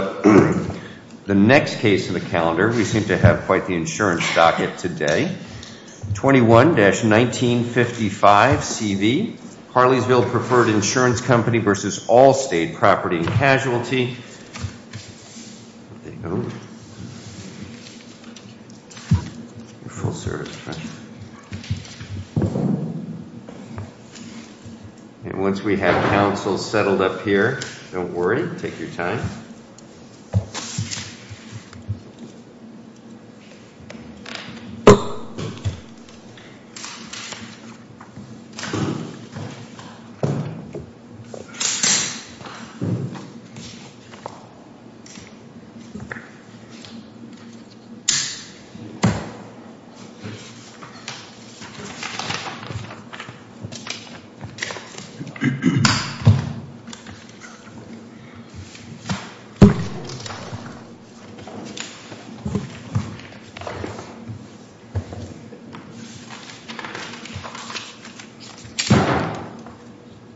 21-1955 C.V. Harleysville Preferred Insurance Company v. Allstate Property and Casualty 21-1955 C.V. Harleysville Preferred Insurance Company v. Allstate Property and Casualty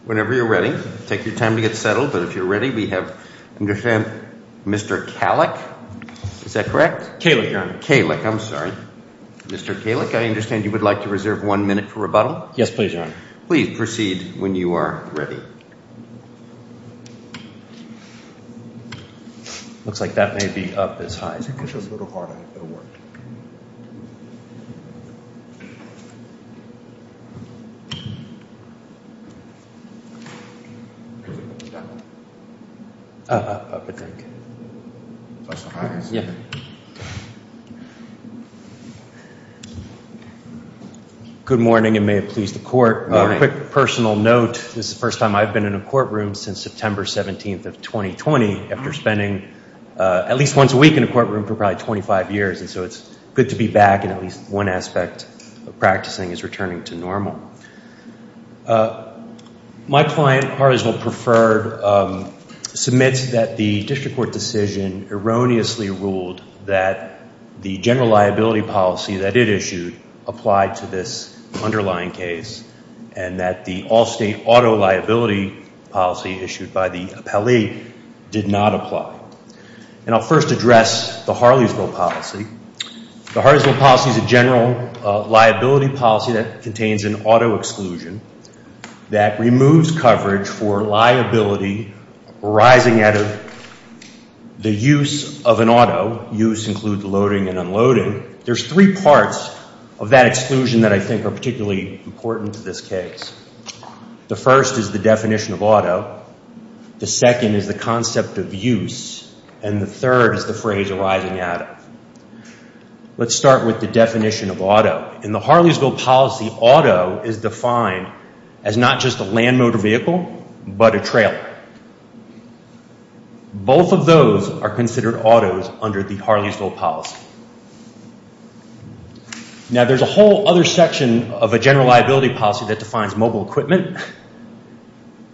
Whenever you're ready, take your time to get settled, but if you're ready we have Mr. Kalik, is that correct? Kalik, your honor. Kalik, I'm sorry. Mr. Kalik, I understand you would like to reserve one minute for rebuttal? Yes please, your honor. Please proceed when you are ready. Looks like that may be up as high. Good morning and may it please the court. Good morning. A quick personal note, this is the first time I've been in a courtroom since September 17th of 2020, after spending at least once a week in a courtroom for probably 25 years, and so it's good to be back and at least one aspect of practicing is returning to normal. My client, Harleysville Preferred, submits that the district court decision erroneously ruled that the general liability policy that it issued applied to this underlying case and that the Allstate auto liability policy issued by the appellee did not apply. And I'll first address the Harleysville policy. The Harleysville policy is a general liability policy that contains an auto exclusion that removes coverage for liability arising out of the use of an auto. Use includes loading and unloading. There's three parts of that exclusion that I think are particularly important to this case. The first is the definition of auto. The second is the concept of use. And the third is the phrase arising out of. Let's start with the definition of auto. In the Harleysville policy, auto is defined as not just a land motor vehicle but a trailer. Both of those are considered autos under the Harleysville policy. Now, there's a whole other section of a general liability policy that defines mobile equipment.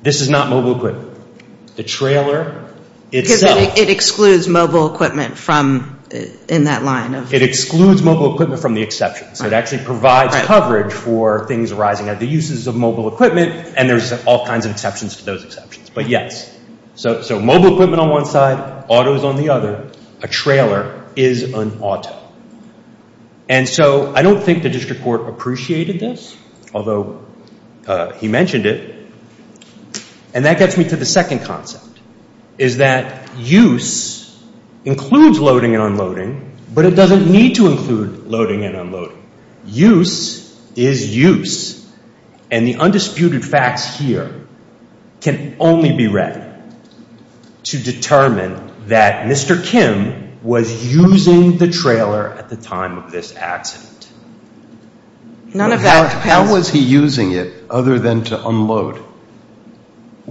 This is not mobile equipment. The trailer itself. It excludes mobile equipment in that line. It excludes mobile equipment from the exceptions. It actually provides coverage for things arising out of the uses of mobile equipment, and there's all kinds of exceptions to those exceptions. But yes, so mobile equipment on one side, autos on the other. A trailer is an auto. And so I don't think the district court appreciated this, although he mentioned it. And that gets me to the second concept, is that use includes loading and unloading, but it doesn't need to include loading and unloading. Use is use. And the undisputed facts here can only be read to determine that Mr. Kim was using the trailer at the time of this accident. How was he using it other than to unload? He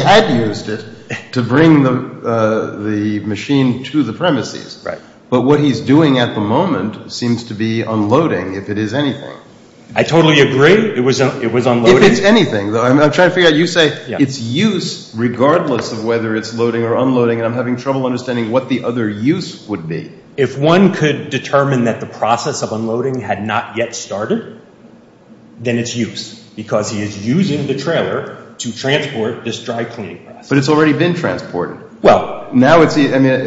had used it to bring the machine to the premises. But what he's doing at the moment seems to be unloading, if it is anything. I totally agree. It was unloading. If it's anything, though. I'm trying to figure out. You say it's use regardless of whether it's loading or unloading, and I'm having trouble understanding what the other use would be. If one could determine that the process of unloading had not yet started, then it's use, because he is using the trailer to transport this dry cleaning process. But it's already been transported. Well, now it's the – I mean,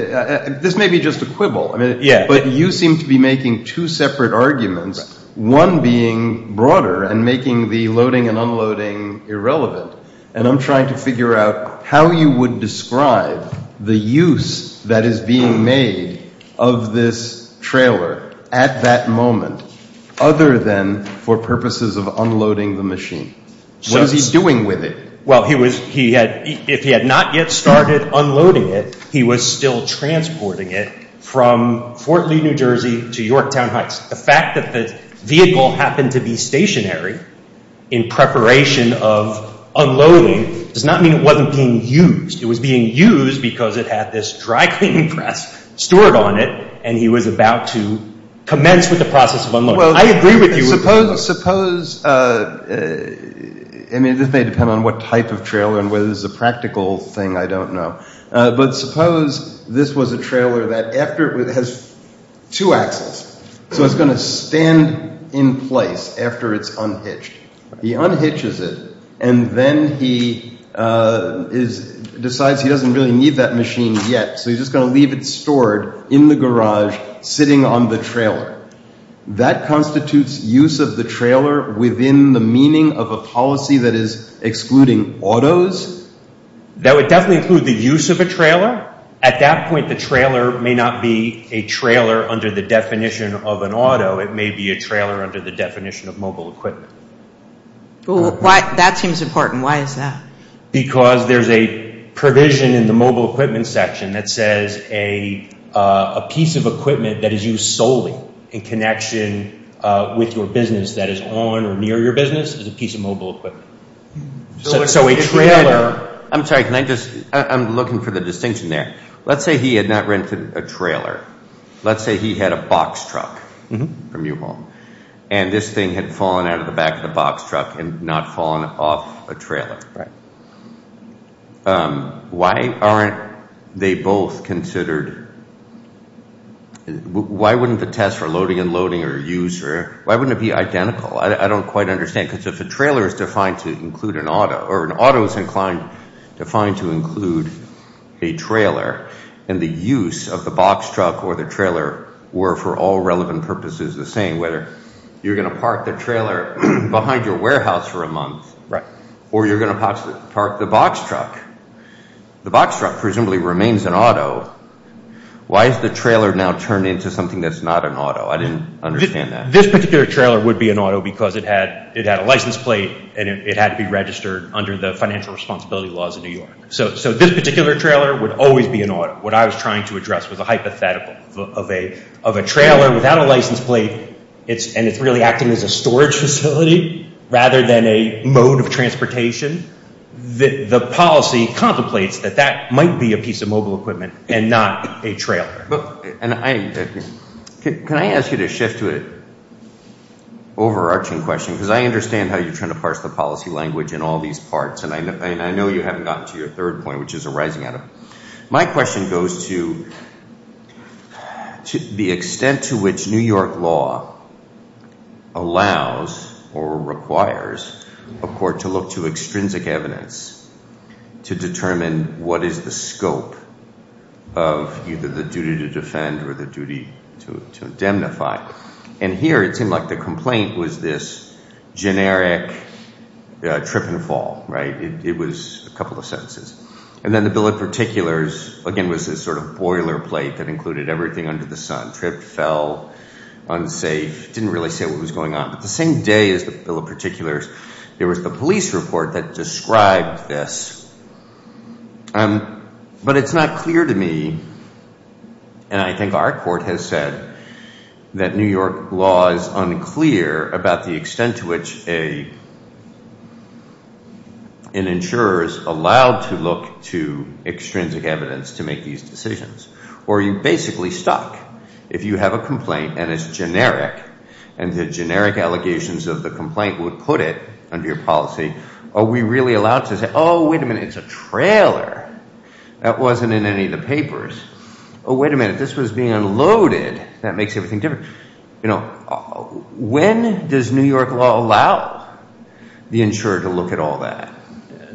this may be just a quibble. Yeah. But you seem to be making two separate arguments, one being broader and making the loading and unloading irrelevant. And I'm trying to figure out how you would describe the use that is being made of this trailer at that moment, other than for purposes of unloading the machine. What is he doing with it? Well, he was – he had – if he had not yet started unloading it, he was still transporting it from Fort Lee, New Jersey, to Yorktown Heights. The fact that the vehicle happened to be stationary in preparation of unloading does not mean it wasn't being used. It was being used because it had this dry cleaning press stored on it, and he was about to commence with the process of unloading. I agree with you. Well, suppose – I mean, this may depend on what type of trailer and whether this is a practical thing, I don't know. But suppose this was a trailer that after – it has two axles, so it's going to stand in place after it's unhitched. He unhitches it, and then he decides he doesn't really need that machine yet, so he's just going to leave it stored in the garage sitting on the trailer. That constitutes use of the trailer within the meaning of a policy that is excluding autos? That would definitely include the use of a trailer. At that point, the trailer may not be a trailer under the definition of an auto. It may be a trailer under the definition of mobile equipment. That seems important. Why is that? Because there's a provision in the mobile equipment section that says a piece of equipment that is used solely in connection with your business that is on or near your business is a piece of mobile equipment. So a trailer – I'm sorry, can I just – I'm looking for the distinction there. Let's say he had not rented a trailer. Let's say he had a box truck from your home, and this thing had fallen out of the back of the box truck and not fallen off a trailer. Right. Why aren't they both considered – why wouldn't the test for loading and loading or user – why wouldn't it be identical? I don't quite understand, because if a trailer is defined to include an auto or an auto is inclined – defined to include a trailer, and the use of the box truck or the trailer were for all relevant purposes the same, whether you're going to park the trailer behind your warehouse for a month, or you're going to park the box truck. The box truck presumably remains an auto. Why has the trailer now turned into something that's not an auto? I didn't understand that. This particular trailer would be an auto because it had a license plate, and it had to be registered under the financial responsibility laws of New York. So this particular trailer would always be an auto. What I was trying to address was a hypothetical of a trailer without a license plate, and it's really acting as a storage facility rather than a mode of transportation. The policy contemplates that that might be a piece of mobile equipment and not a trailer. Can I ask you to shift to an overarching question? Because I understand how you're trying to parse the policy language in all these parts, and I know you haven't gotten to your third point, which is arising out of it. My question goes to the extent to which New York law allows or requires a court to look to extrinsic evidence to determine what is the scope of either the duty to defend or the duty to indemnify. And here it seemed like the complaint was this generic trip and fall, right? It was a couple of sentences. And then the bill of particulars, again, was this sort of boilerplate that included everything under the sun. Tripped, fell, unsafe, didn't really say what was going on. But the same day as the bill of particulars, there was the police report that described this. But it's not clear to me, and I think our court has said, that New York law is unclear about the extent to which an insurer is allowed to look to extrinsic evidence to make these decisions. Or you're basically stuck. If you have a complaint and it's generic, and the generic allegations of the complaint would put it under your policy, are we really allowed to say, oh, wait a minute, it's a trailer. That wasn't in any of the papers. Oh, wait a minute, this was being unloaded. That makes everything different. You know, when does New York law allow the insurer to look at all that?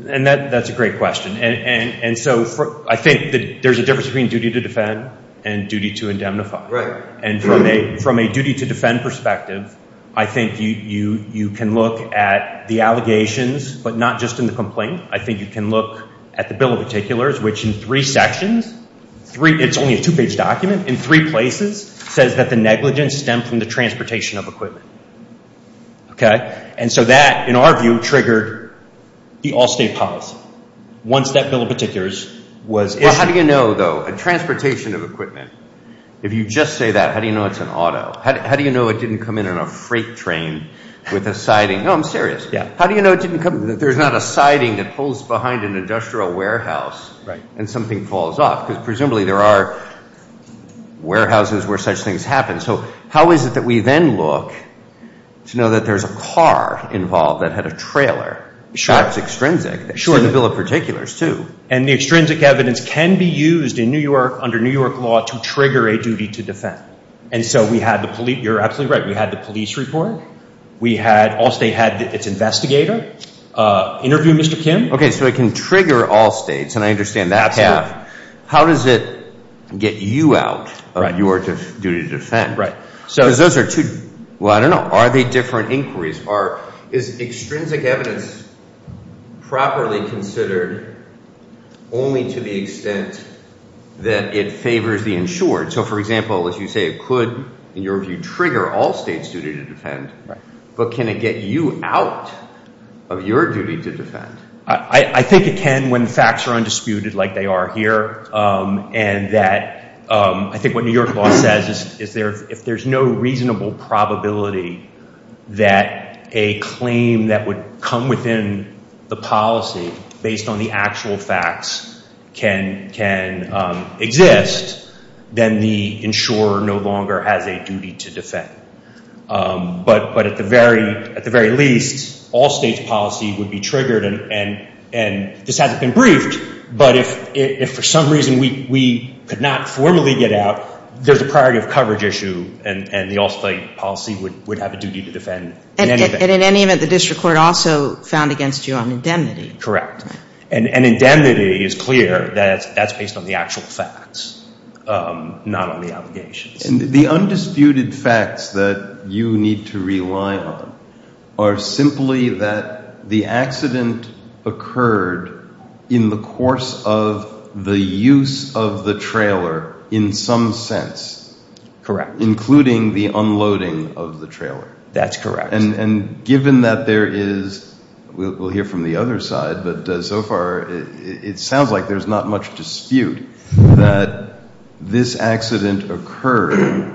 And that's a great question. And so I think that there's a difference between duty to defend and duty to indemnify. And from a duty to defend perspective, I think you can look at the allegations, but not just in the complaint. I think you can look at the bill of particulars, which in three sections, it's only a two-page document, in three places says that the negligence stemmed from the transportation of equipment. And so that, in our view, triggered the all-state policy. Once that bill of particulars was issued. How do you know, though, a transportation of equipment, if you just say that, how do you know it's an auto? How do you know it didn't come in on a freight train with a siding? No, I'm serious. How do you know it didn't come, that there's not a siding that pulls behind an industrial warehouse and something falls off? Because presumably there are warehouses where such things happen. So how is it that we then look to know that there's a car involved that had a trailer? Sure. That's extrinsic. Sure. That's in the bill of particulars, too. And the extrinsic evidence can be used in New York, under New York law, to trigger a duty to defend. And so we had the police. You're absolutely right. We had the police report. Allstate had its investigator interview Mr. Kim. Okay, so it can trigger all states, and I understand that. Absolutely. How does it get you out of your duty to defend? Right. Because those are two, well, I don't know, are they different inquiries? Is extrinsic evidence properly considered only to the extent that it favors the insured? So, for example, if you say it could, in your view, trigger all states' duty to defend, but can it get you out of your duty to defend? I think it can when facts are undisputed like they are here. And that I think what New York law says is if there's no reasonable probability that a claim that would come within the policy, based on the actual facts, can exist, then the insurer no longer has a duty to defend. But at the very least, all states' policy would be triggered, and this hasn't been briefed, but if for some reason we could not formally get out, there's a priority of coverage issue, and the Allstate policy would have a duty to defend. And in any event, the district court also found against you on indemnity. Correct. And indemnity is clear that that's based on the actual facts, not on the obligations. The undisputed facts that you need to rely on are simply that the accident occurred in the course of the use of the trailer in some sense. Correct. Including the unloading of the trailer. That's correct. And given that there is, we'll hear from the other side, but so far it sounds like there's not much dispute that this accident occurred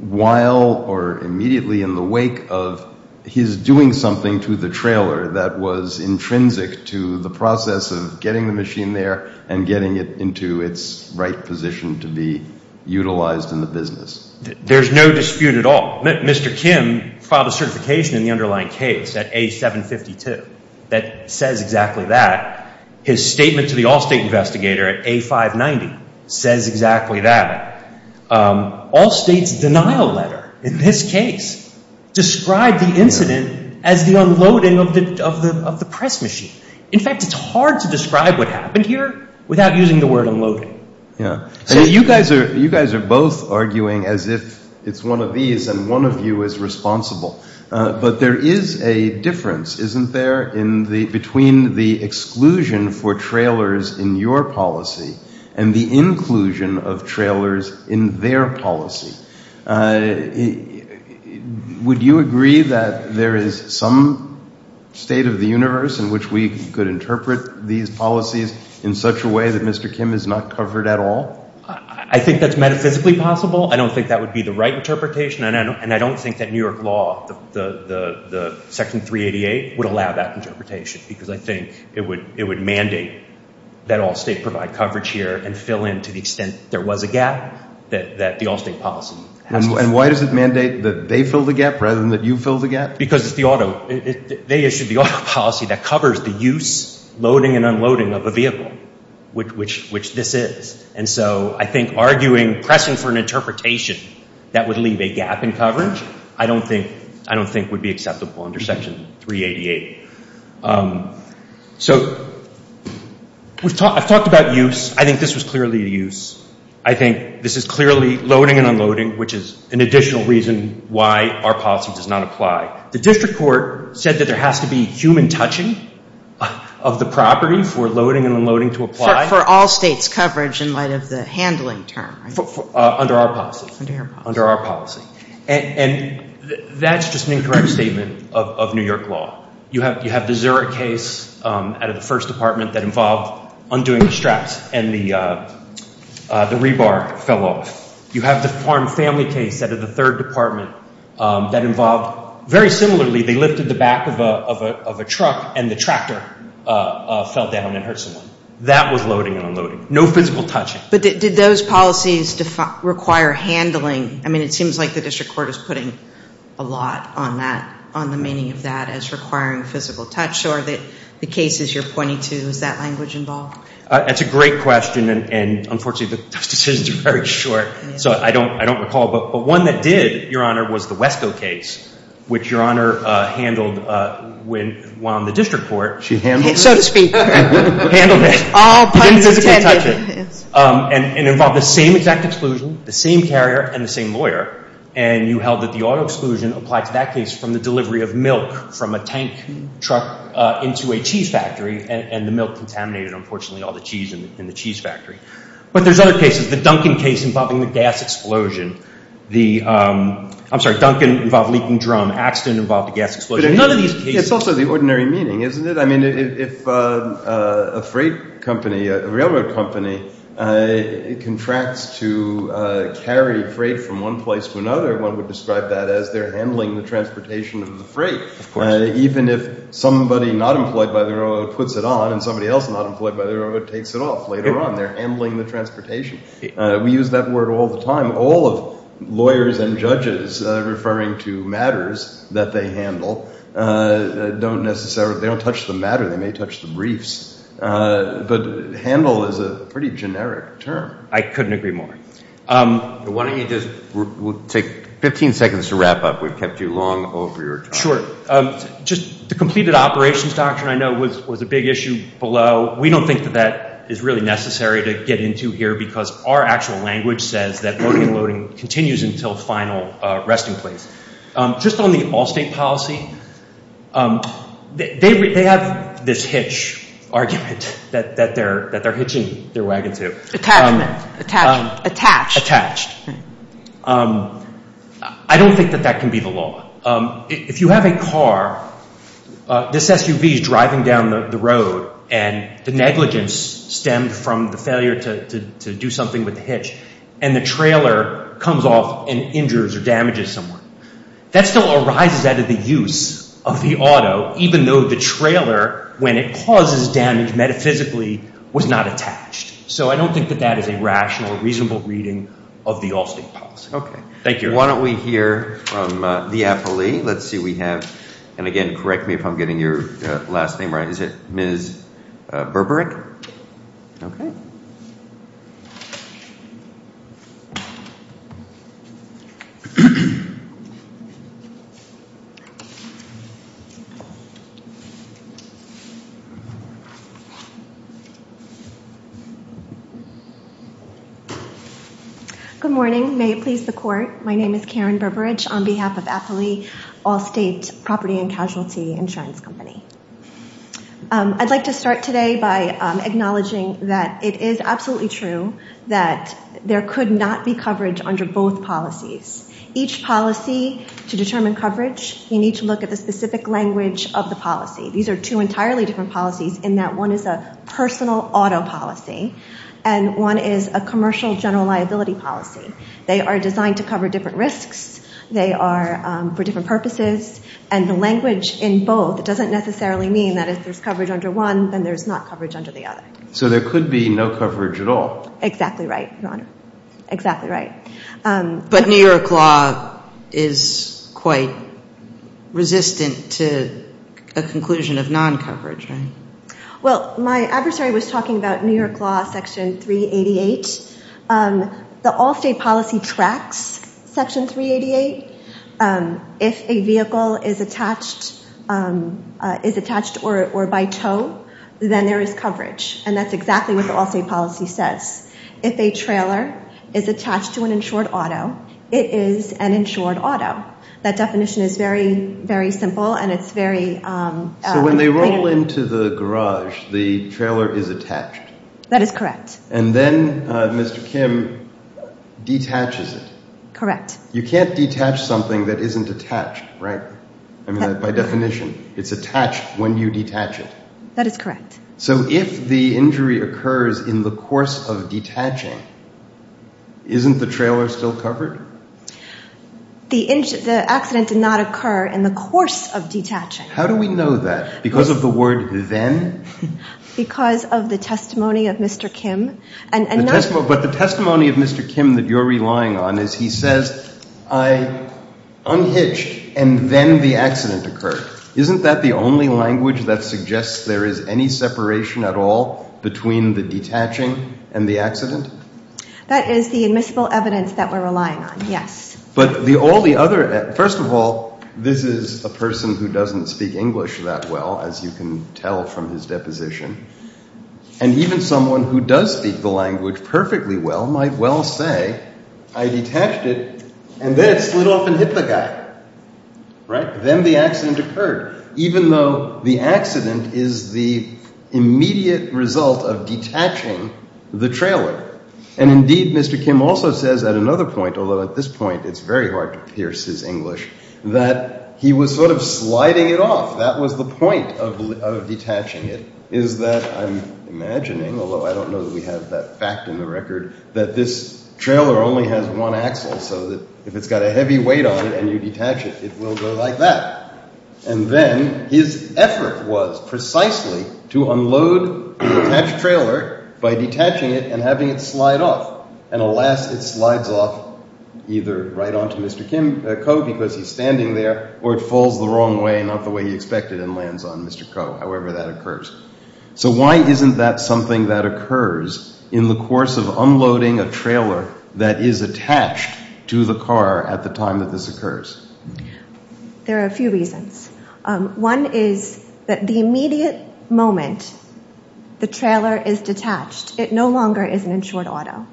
while or immediately in the wake of his doing something to the trailer that was intrinsic to the process of getting the machine there and getting it into its right position to be utilized in the business. There's no dispute at all. Mr. Kim filed a certification in the underlying case at A752 that says exactly that. His statement to the Allstate investigator at A590 says exactly that. Allstate's denial letter in this case described the incident as the unloading of the press machine. In fact, it's hard to describe what happened here without using the word unloading. You guys are both arguing as if it's one of these and one of you is responsible. But there is a difference, isn't there, between the exclusion for trailers in your policy and the inclusion of trailers in their policy. Would you agree that there is some state of the universe in which we could interpret these policies in such a way that Mr. Kim has not covered at all? I think that's metaphysically possible. I don't think that would be the right interpretation, and I don't think that New York law, the Section 388, would allow that interpretation because I think it would mandate that Allstate provide coverage here and fill in to the extent there was a gap that the Allstate policy has. And why does it mandate that they fill the gap rather than that you fill the gap? Because it's the auto. They issued the auto policy that covers the use, loading, and unloading of a vehicle, which this is. And so I think arguing, pressing for an interpretation that would leave a gap in coverage, I don't think would be acceptable under Section 388. So I've talked about use. I think this was clearly a use. I think this is clearly loading and unloading, which is an additional reason why our policy does not apply. The district court said that there has to be human touching of the property for loading and unloading to apply. For Allstate's coverage in light of the handling term, right? Under our policy. Under your policy. Under our policy. And that's just an incorrect statement of New York law. You have the Zurich case out of the First Department that involved undoing the straps and the rebar fell off. You have the Farm Family case out of the Third Department that involved, very similarly, they lifted the back of a truck and the tractor fell down and hurt someone. That was loading and unloading. No physical touching. But did those policies require handling? I mean, it seems like the district court is putting a lot on that, on the meaning of that as requiring physical touch. So are the cases you're pointing to, is that language involved? That's a great question. And unfortunately, those decisions are very short. So I don't recall. But one that did, Your Honor, was the Westco case, which Your Honor handled when on the district court. She handled it. So to speak. Handled it. All puns intended. Physical touching. And involved the same exact exclusion, the same carrier, and the same lawyer. And you held that the auto exclusion applied to that case from the delivery of milk from a tank truck into a cheese factory. And the milk contaminated, unfortunately, all the cheese in the cheese factory. But there's other cases. The Duncan case involving the gas explosion. The, I'm sorry, Duncan involved leaking drum. Axton involved a gas explosion. None of these cases. It's also the ordinary meaning, isn't it? I mean, if a freight company, a railroad company, contracts to carry freight from one place to another, one would describe that as they're handling the transportation of the freight. Of course. Even if somebody not employed by the railroad puts it on and somebody else not employed by the railroad takes it off later on. They're handling the transportation. We use that word all the time. All of lawyers and judges referring to matters that they handle don't necessarily, they don't touch the matter. They may touch the briefs. But handle is a pretty generic term. I couldn't agree more. Why don't you just, we'll take 15 seconds to wrap up. We've kept you long over your time. Sure. Just the completed operations doctrine I know was a big issue below. We don't think that that is really necessary to get into here because our actual language says that loading and loading continues until final resting place. Just on the all-state policy, they have this hitch argument that they're hitching their wagons to. Attached. Attached. I don't think that that can be the law. If you have a car, this SUV is driving down the road and the negligence stemmed from the failure to do something with the hitch. And the trailer comes off and injures or damages someone. That still arises out of the use of the auto even though the trailer, when it causes damage metaphysically, was not attached. So I don't think that that is a rational or reasonable reading of the all-state policy. Okay. Thank you. Why don't we hear from the appellee. Let's see what we have. And again, correct me if I'm getting your last name right. Is it Ms. Berberick? Yes. Okay. Good morning. May it please the court. My name is Karen Berberick on behalf of Appellee All-State Property and Casualty Insurance Company. I'd like to start today by acknowledging that it is absolutely true that there could not be coverage under both policies. Each policy, to determine coverage, you need to look at the specific language of the policy. These are two entirely different policies in that one is a personal auto policy and one is a commercial general liability policy. They are designed to cover different risks. They are for different purposes. And the language in both doesn't necessarily mean that if there's coverage under one, then there's not coverage under the other. So there could be no coverage at all. Exactly right, Your Honor. Exactly right. But New York law is quite resistant to a conclusion of non-coverage, right? Well, my adversary was talking about New York law section 388. The all-state policy tracks section 388. If a vehicle is attached or by tow, then there is coverage. And that's exactly what the all-state policy says. If a trailer is attached to an insured auto, it is an insured auto. That definition is very, very simple and it's very plain. So when they roll into the garage, the trailer is attached. That is correct. And then Mr. Kim detaches it. Correct. You can't detach something that isn't attached, right? I mean, by definition, it's attached when you detach it. That is correct. So if the injury occurs in the course of detaching, isn't the trailer still covered? The accident did not occur in the course of detaching. How do we know that? Because of the word then? Because of the testimony of Mr. Kim. But the testimony of Mr. Kim that you're relying on is he says, I unhitched and then the accident occurred. Isn't that the only language that suggests there is any separation at all between the detaching and the accident? That is the admissible evidence that we're relying on, yes. But the only other – first of all, this is a person who doesn't speak English that well, as you can tell from his deposition. And even someone who does speak the language perfectly well might well say, I detached it and then it slid off and hit the guy. Right? Then the accident occurred, even though the accident is the immediate result of detaching the trailer. And indeed, Mr. Kim also says at another point, although at this point it's very hard to pierce his English, that he was sort of sliding it off. That was the point of detaching it, is that I'm imagining, although I don't know that we have that fact in the record, that this trailer only has one axle, so that if it's got a heavy weight on it and you detach it, it will go like that. And then his effort was precisely to unload the detached trailer by detaching it and having it slide off. And alas, it slides off either right onto Mr. Ko, because he's standing there, or it falls the wrong way, not the way he expected, and lands on Mr. Ko, however that occurs. So why isn't that something that occurs in the course of unloading a trailer that is attached to the car at the time that this occurs? There are a few reasons. One is that the immediate moment the trailer is detached, it no longer is an insured auto.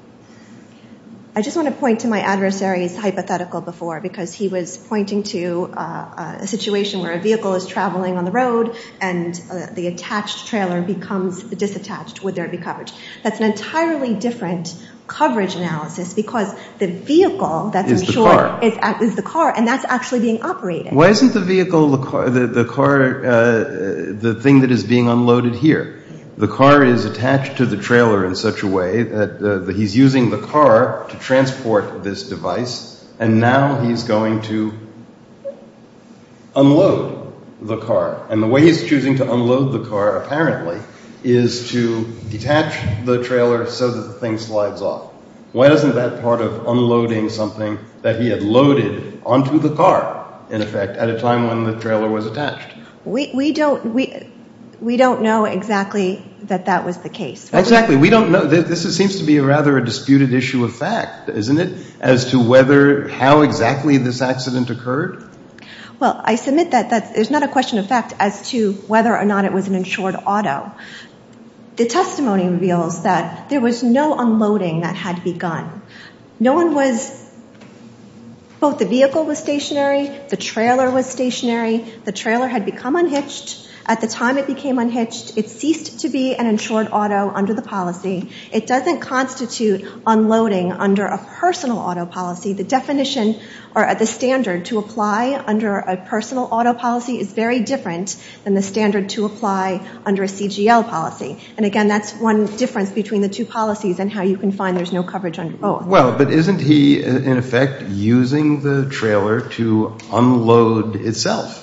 I just want to point to my adversary's hypothetical before, because he was pointing to a situation where a vehicle is traveling on the road and the attached trailer becomes disattached. Would there be coverage? That's an entirely different coverage analysis, because the vehicle that's insured is the car, and that's actually being operated. Why isn't the vehicle, the car, the thing that is being unloaded here? The car is attached to the trailer in such a way that he's using the car to transport this device, and now he's going to unload the car. And the way he's choosing to unload the car, apparently, is to detach the trailer so that the thing slides off. Why isn't that part of unloading something that he had loaded onto the car, in effect, at a time when the trailer was attached? We don't know exactly that that was the case. Exactly. We don't know. This seems to be rather a disputed issue of fact, isn't it, as to whether, how exactly this accident occurred? Well, I submit that there's not a question of fact as to whether or not it was an insured auto. The testimony reveals that there was no unloading that had begun. No one was – both the vehicle was stationary, the trailer was stationary, the trailer had become unhitched. At the time it became unhitched, it ceased to be an insured auto under the policy. It doesn't constitute unloading under a personal auto policy. The definition or the standard to apply under a personal auto policy is very different than the standard to apply under a CGL policy. And, again, that's one difference between the two policies and how you can find there's no coverage under both. Well, but isn't he, in effect, using the trailer to unload itself?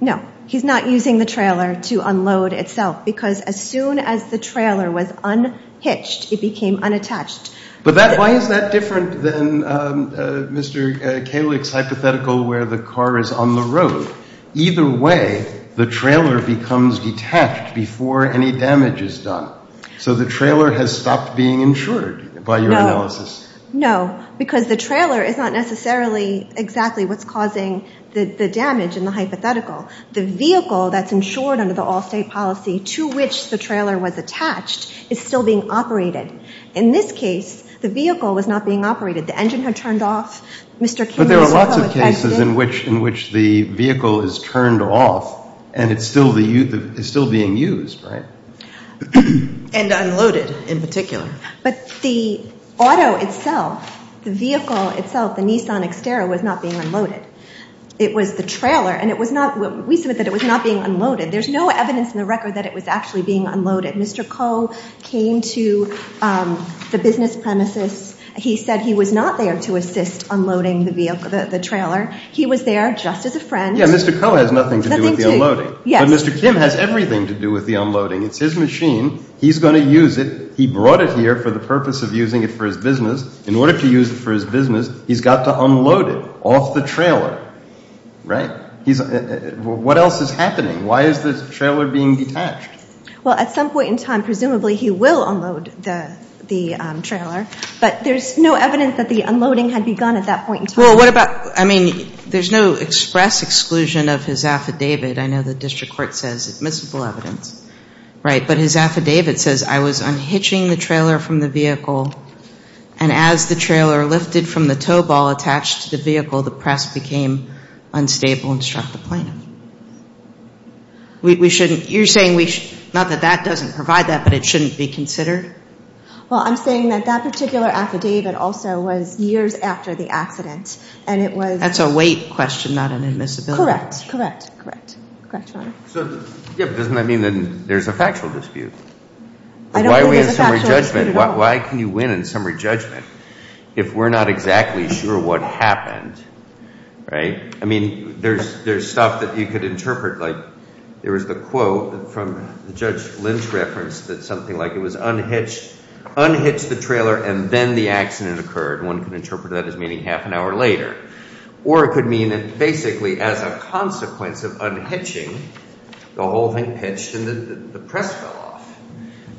No. He's not using the trailer to unload itself because as soon as the trailer was unhitched, it became unattached. But why is that different than Mr. Kalick's hypothetical where the car is on the road? Either way, the trailer becomes detached before any damage is done. So the trailer has stopped being insured by your analysis. No, because the trailer is not necessarily exactly what's causing the damage in the hypothetical. The vehicle that's insured under the all-state policy to which the trailer was attached is still being operated. In this case, the vehicle was not being operated. The engine had turned off. But there are lots of cases in which the vehicle is turned off and it's still being used, right? And unloaded, in particular. But the auto itself, the vehicle itself, the Nissan Xterra, was not being unloaded. It was the trailer, and we submit that it was not being unloaded. There's no evidence in the record that it was actually being unloaded. Mr. Koh came to the business premises. He said he was not there to assist unloading the trailer. He was there just as a friend. Yeah, Mr. Koh has nothing to do with the unloading. But Mr. Kim has everything to do with the unloading. It's his machine. He's going to use it. He brought it here for the purpose of using it for his business. In order to use it for his business, he's got to unload it off the trailer, right? What else is happening? Why is the trailer being detached? Well, at some point in time, presumably, he will unload the trailer. But there's no evidence that the unloading had begun at that point in time. Well, what about, I mean, there's no express exclusion of his affidavit. I know the district court says admissible evidence, right? But his affidavit says, I was unhitching the trailer from the vehicle, and as the trailer lifted from the tow ball attached to the vehicle, the press became unstable and struck the plane. You're saying, not that that doesn't provide that, but it shouldn't be considered? Well, I'm saying that that particular affidavit also was years after the accident. That's a weight question, not an admissibility question. Correct, correct, correct, correct, Your Honor. Yeah, but doesn't that mean that there's a factual dispute? I don't think there's a factual dispute at all. Why can you win in summary judgment if we're not exactly sure what happened, right? I mean, there's stuff that you could interpret, like there was the quote from Judge Lynch's reference that something like it was unhitched, unhitched the trailer, and then the accident occurred. One could interpret that as meaning half an hour later. Or it could mean that basically as a consequence of unhitching, the whole thing pitched and the press fell off.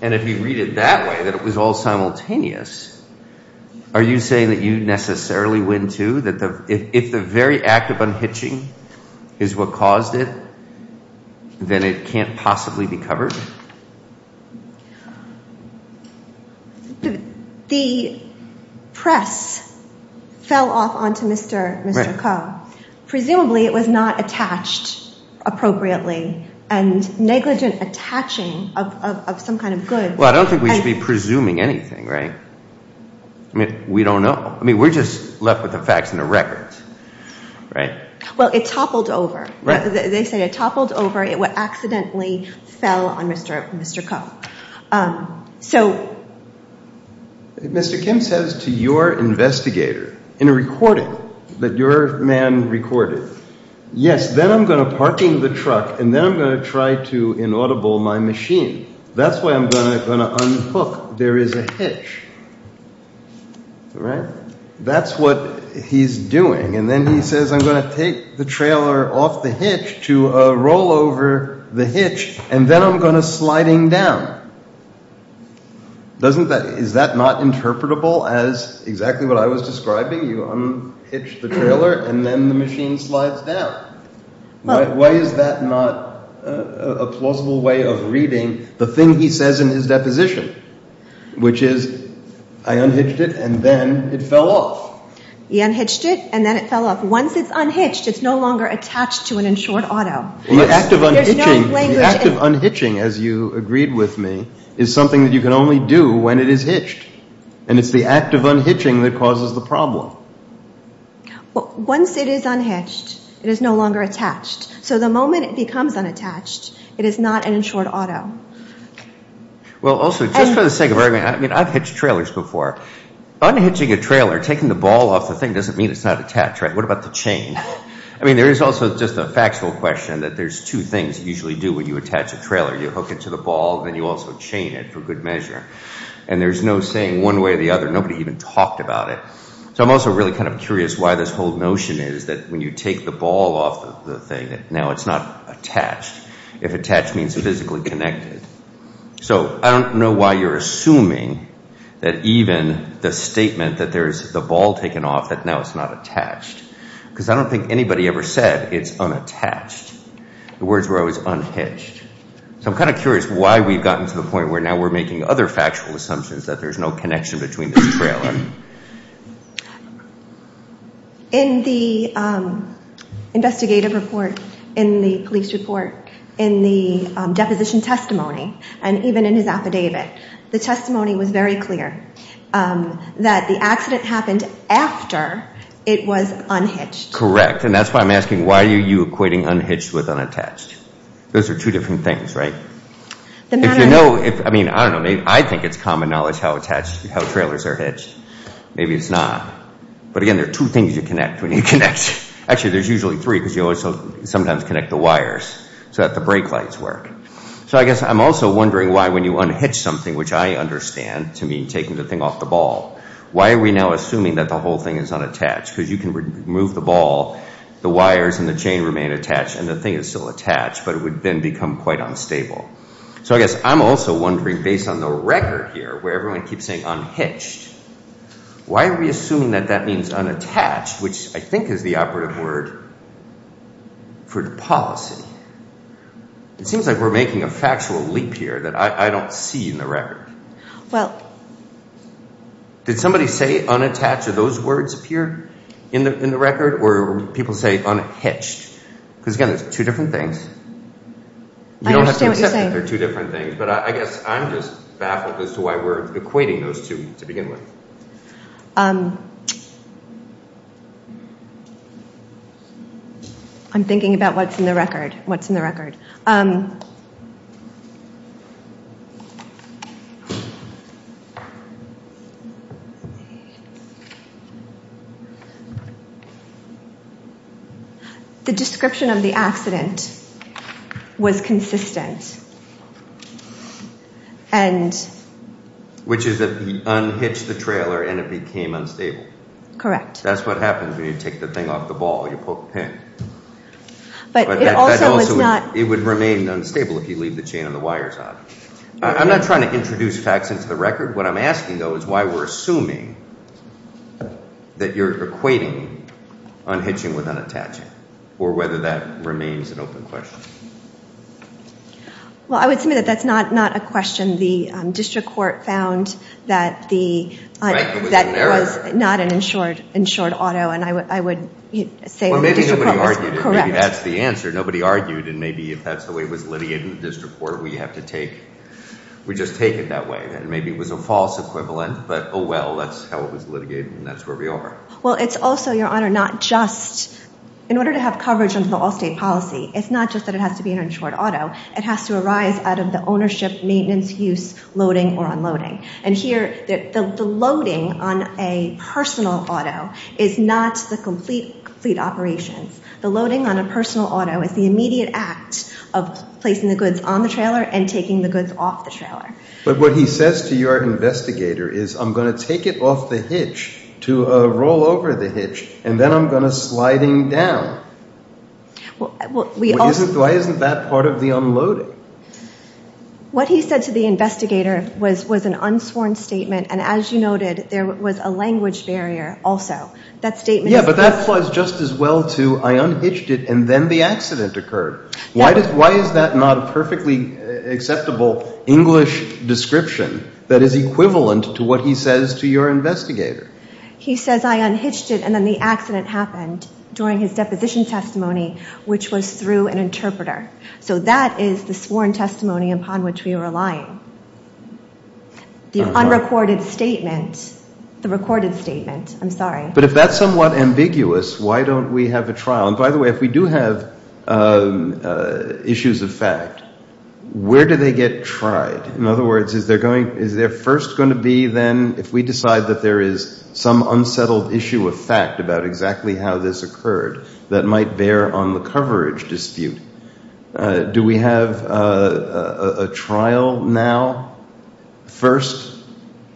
And if you read it that way, that it was all simultaneous, are you saying that you necessarily win too, that if the very act of unhitching is what caused it, then it can't possibly be covered? The press fell off onto Mr. Coe. Presumably it was not attached appropriately and negligent attaching of some kind of good. Well, I don't think we should be presuming anything, right? I mean, we don't know. I mean, we're just left with the facts and the records, right? Well, it toppled over. They say it toppled over. It accidentally fell on Mr. Coe. So Mr. Kim says to your investigator in a recording that your man recorded, yes, then I'm going to parking the truck, and then I'm going to try to inaudible my machine. That's why I'm going to unhook. There is a hitch, right? That's what he's doing. And then he says I'm going to take the trailer off the hitch to roll over the hitch, and then I'm going to sliding down. Isn't that not interpretable as exactly what I was describing? You unhitch the trailer, and then the machine slides down. Why is that not a plausible way of reading the thing he says in his deposition, which is I unhitched it, and then it fell off? He unhitched it, and then it fell off. Once it's unhitched, it's no longer attached to an insured auto. The act of unhitching, as you agreed with me, is something that you can only do when it is hitched, and it's the act of unhitching that causes the problem. Once it is unhitched, it is no longer attached. So the moment it becomes unattached, it is not an insured auto. Well, also, just for the sake of argument, I've hitched trailers before. Unhitching a trailer, taking the ball off the thing, doesn't mean it's not attached, right? What about the chain? I mean, there is also just a factual question that there's two things you usually do when you attach a trailer. You hook it to the ball, and then you also chain it for good measure. And there's no saying one way or the other. Nobody even talked about it. So I'm also really kind of curious why this whole notion is that when you take the ball off the thing, now it's not attached, if attached means physically connected. So I don't know why you're assuming that even the statement that there's the ball taken off, that now it's not attached, because I don't think anybody ever said it's unattached. The words were always unhitched. So I'm kind of curious why we've gotten to the point where now we're making other factual assumptions that there's no connection between this trailer. In the investigative report, in the police report, in the deposition testimony, and even in his affidavit, the testimony was very clear that the accident happened after it was unhitched. Correct. And that's why I'm asking, why are you equating unhitched with unattached? Those are two different things, right? If you know, I mean, I don't know. I think it's common knowledge how trailers are hitched. Maybe it's not. But again, there are two things you connect when you connect. Actually, there's usually three, because you also sometimes connect the wires, so that the brake lights work. So I guess I'm also wondering why when you unhitch something, which I understand to mean taking the thing off the ball, why are we now assuming that the whole thing is unattached? Because you can remove the ball, the wires and the chain remain attached, and the thing is still attached, but it would then become quite unstable. So I guess I'm also wondering, based on the record here, where everyone keeps saying unhitched, why are we assuming that that means unattached, which I think is the operative word for the policy? It seems like we're making a factual leap here that I don't see in the record. Well. Did somebody say unattached? Did those words appear in the record? Or did people say unhitched? Because again, there's two different things. I understand what you're saying. You don't have to accept that they're two different things. But I guess I'm just baffled as to why we're equating those two to begin with. I'm thinking about what's in the record. The description of the accident was consistent, and... Which is that he unhitched the trailer and it became unstable. Correct. That's what happens when you take the thing off the ball, you poke a pin. But it also was not... It would remain unstable if you leave the chain and the wires on. I'm not trying to introduce facts into the record. What I'm asking, though, is why we're assuming that you're equating unhitching with unattaching or whether that remains an open question. Well, I would submit that that's not a question. The district court found that the... Right, it was an error. That was not an insured auto. And I would say the district court was correct. I mean, that's the answer. Nobody argued, and maybe if that's the way it was litigated in the district court, we have to take... We just take it that way. Maybe it was a false equivalent, but, oh, well, that's how it was litigated, and that's where we are. Well, it's also, Your Honor, not just... In order to have coverage under the all-state policy, it's not just that it has to be an insured auto. It has to arise out of the ownership, maintenance, use, loading, or unloading. And here, the loading on a personal auto is not the complete operations. The loading on a personal auto is the immediate act of placing the goods on the trailer and taking the goods off the trailer. But what he says to your investigator is, I'm going to take it off the hitch to roll over the hitch, and then I'm going to slide him down. Why isn't that part of the unloading? What he said to the investigator was an unsworn statement, and as you noted, there was a language barrier also. Yeah, but that applies just as well to, I unhitched it, and then the accident occurred. Why is that not a perfectly acceptable English description that is equivalent to what he says to your investigator? He says, I unhitched it, and then the accident happened during his deposition testimony, which was through an interpreter. So that is the sworn testimony upon which we are relying. The unrecorded statement, the recorded statement, I'm sorry. But if that's somewhat ambiguous, why don't we have a trial? And by the way, if we do have issues of fact, where do they get tried? In other words, is there first going to be then, if we decide that there is some unsettled issue of fact about exactly how this occurred that might bear on the coverage dispute, do we have a trial now first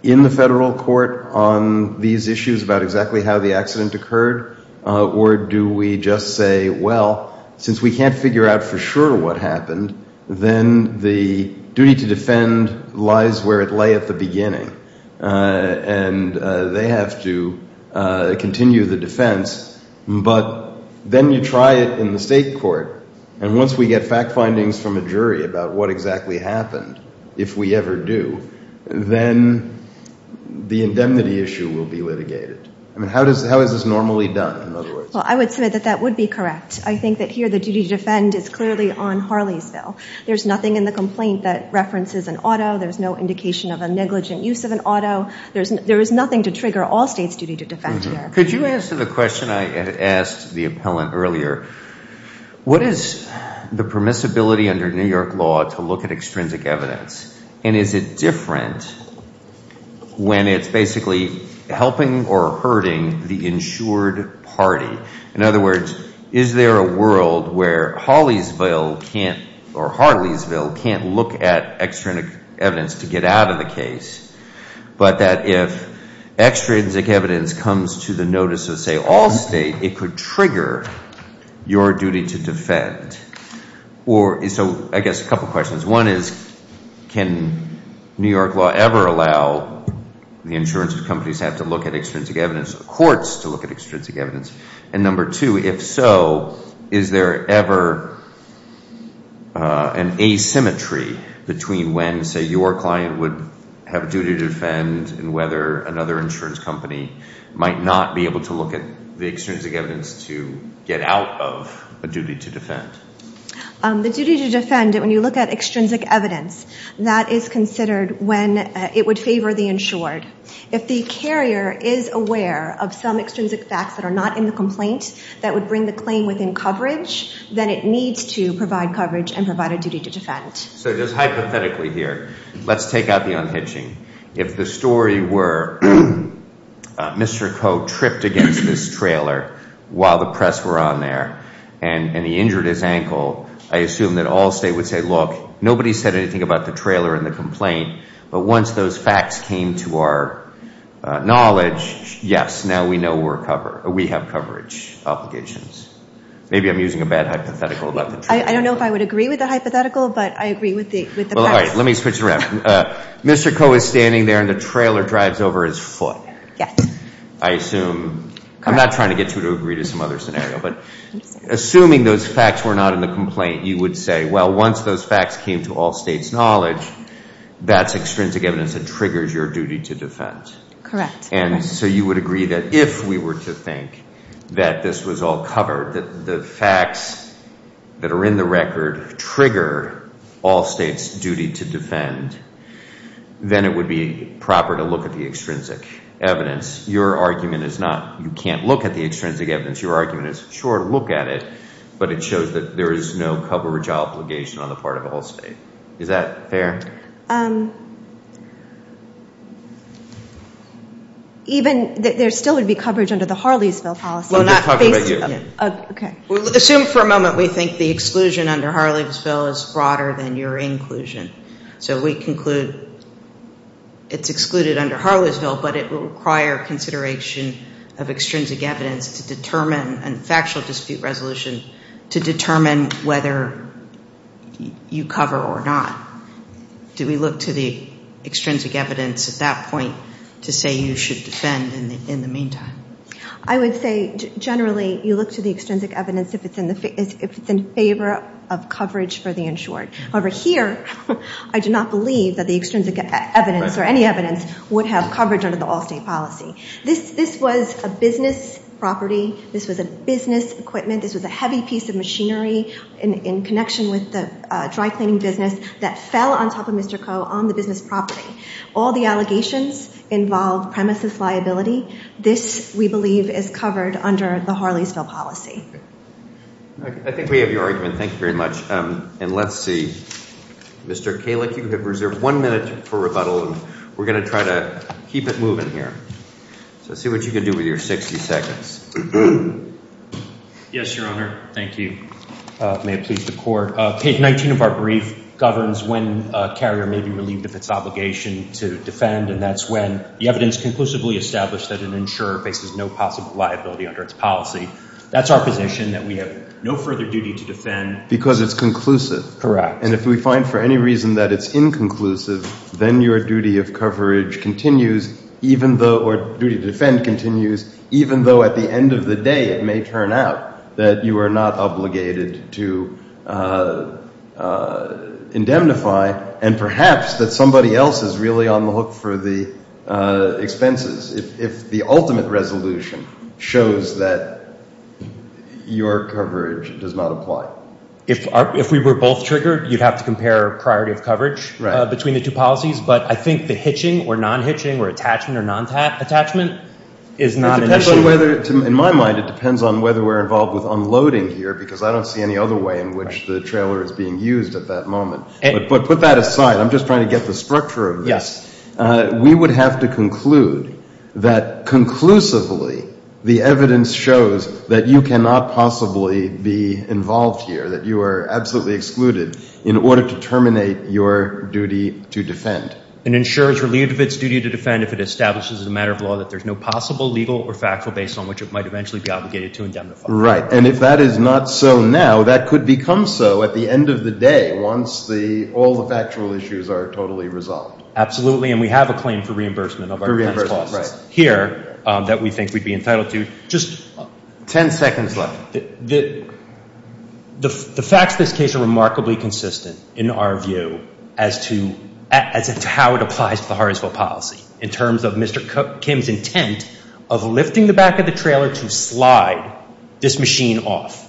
in the federal court on these issues about exactly how the accident occurred? Or do we just say, well, since we can't figure out for sure what happened, then the duty to defend lies where it lay at the beginning, and they have to continue the defense. But then you try it in the state court, and once we get fact findings from a jury about what exactly happened, if we ever do, then the indemnity issue will be litigated. I mean, how is this normally done, in other words? Well, I would submit that that would be correct. I think that here the duty to defend is clearly on Harley's bill. There's nothing in the complaint that references an auto. There's no indication of a negligent use of an auto. There is nothing to trigger all states' duty to defend here. Could you answer the question I had asked the appellant earlier? What is the permissibility under New York law to look at extrinsic evidence? And is it different when it's basically helping or hurting the insured party? In other words, is there a world where Harley's bill can't look at extrinsic evidence to get out of the case, but that if extrinsic evidence comes to the notice of, say, all state, it could trigger your duty to defend? So I guess a couple questions. One is, can New York law ever allow the insurance companies to have to look at extrinsic evidence, courts to look at extrinsic evidence? And number two, if so, is there ever an asymmetry between when, say, your client would have a duty to defend and whether another insurance company might not be able to look at the extrinsic evidence to get out of a duty to defend? The duty to defend, when you look at extrinsic evidence, that is considered when it would favor the insured. If the carrier is aware of some extrinsic facts that are not in the complaint that would bring the claim within coverage, then it needs to provide coverage and provide a duty to defend. So just hypothetically here, let's take out the unhitching. If the story were Mr. Coe tripped against this trailer while the press were on there and he injured his ankle, I assume that all state would say, look, nobody said anything about the trailer and the complaint. But once those facts came to our knowledge, yes, now we know we have coverage obligations. Maybe I'm using a bad hypothetical. I don't know if I would agree with the hypothetical, but I agree with the press. Well, all right, let me switch it around. Mr. Coe is standing there and the trailer drives over his foot. Yes. I'm not trying to get you to agree to some other scenario, but assuming those facts were not in the complaint, you would say, well, once those facts came to all states' knowledge, that's extrinsic evidence that triggers your duty to defend. Correct. And so you would agree that if we were to think that this was all covered, that the facts that are in the record trigger all states' duty to defend, then it would be proper to look at the extrinsic evidence. Your argument is not, you can't look at the extrinsic evidence. Your argument is, sure, look at it, but it shows that there is no coverage obligation on the part of all states. Is that fair? Even, there still would be coverage under the Harleysville policy. We're not talking about you. Okay. Assume for a moment we think the exclusion under Harleysville is broader than your inclusion. So we conclude it's excluded under Harleysville, but it will require consideration of extrinsic evidence to determine and factual dispute resolution to determine whether you cover or not. Do we look to the extrinsic evidence at that point to say you should defend in the meantime? I would say generally you look to the extrinsic evidence if it's in favor of coverage for the insured. However, here I do not believe that the extrinsic evidence or any evidence would have coverage under the all-state policy. This was a business property. This was a business equipment. This was a heavy piece of machinery in connection with the dry cleaning business that fell on top of Mr. Coe on the business property. All the allegations involve premises liability. This, we believe, is covered under the Harleysville policy. I think we have your argument. Thank you very much. And let's see. Mr. Kalik, you have reserved one minute for rebuttal. We're going to try to keep it moving here. So see what you can do with your 60 seconds. Yes, Your Honor. Thank you. May it please the Court. Page 19 of our brief governs when a carrier may be relieved of its obligation to defend, and that's when the evidence conclusively established that an insurer faces no possible liability under its policy. That's our position, that we have no further duty to defend. Because it's conclusive. Correct. And if we find for any reason that it's inconclusive, then your duty of coverage continues, or duty to defend continues, even though at the end of the day, it may turn out that you are not obligated to indemnify, and perhaps that somebody else is really on the hook for the expenses if the ultimate resolution shows that your coverage does not apply. If we were both triggered, you'd have to compare priority of coverage between the two policies. But I think the hitching or non-hitching or attachment or non-attachment is not an issue. In my mind, it depends on whether we're involved with unloading here, because I don't see any other way in which the trailer is being used at that moment. But put that aside. I'm just trying to get the structure of this. Yes. We would have to conclude that conclusively, the evidence shows that you cannot possibly be involved here, that you are absolutely excluded in order to terminate your duty to defend. And ensure it's relieved of its duty to defend if it establishes as a matter of law that there's no possible legal or factual basis on which it might eventually be obligated to indemnify. Right. And if that is not so now, that could become so at the end of the day once all the factual issues are totally resolved. Absolutely. And we have a claim for reimbursement of our defense costs here that we think we'd be entitled to. Just ten seconds left. The facts of this case are remarkably consistent in our view as to how it applies to the Harrisville policy in terms of Mr. Kim's intent of lifting the back of the trailer to slide this machine off.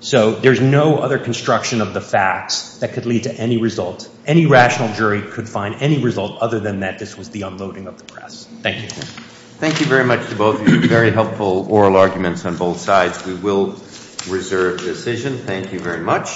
So there's no other construction of the facts that could lead to any result. The jury could find any result other than that this was the unloading of the press. Thank you. Thank you very much to both of you. Very helpful oral arguments on both sides. We will reserve the decision. Thank you very much.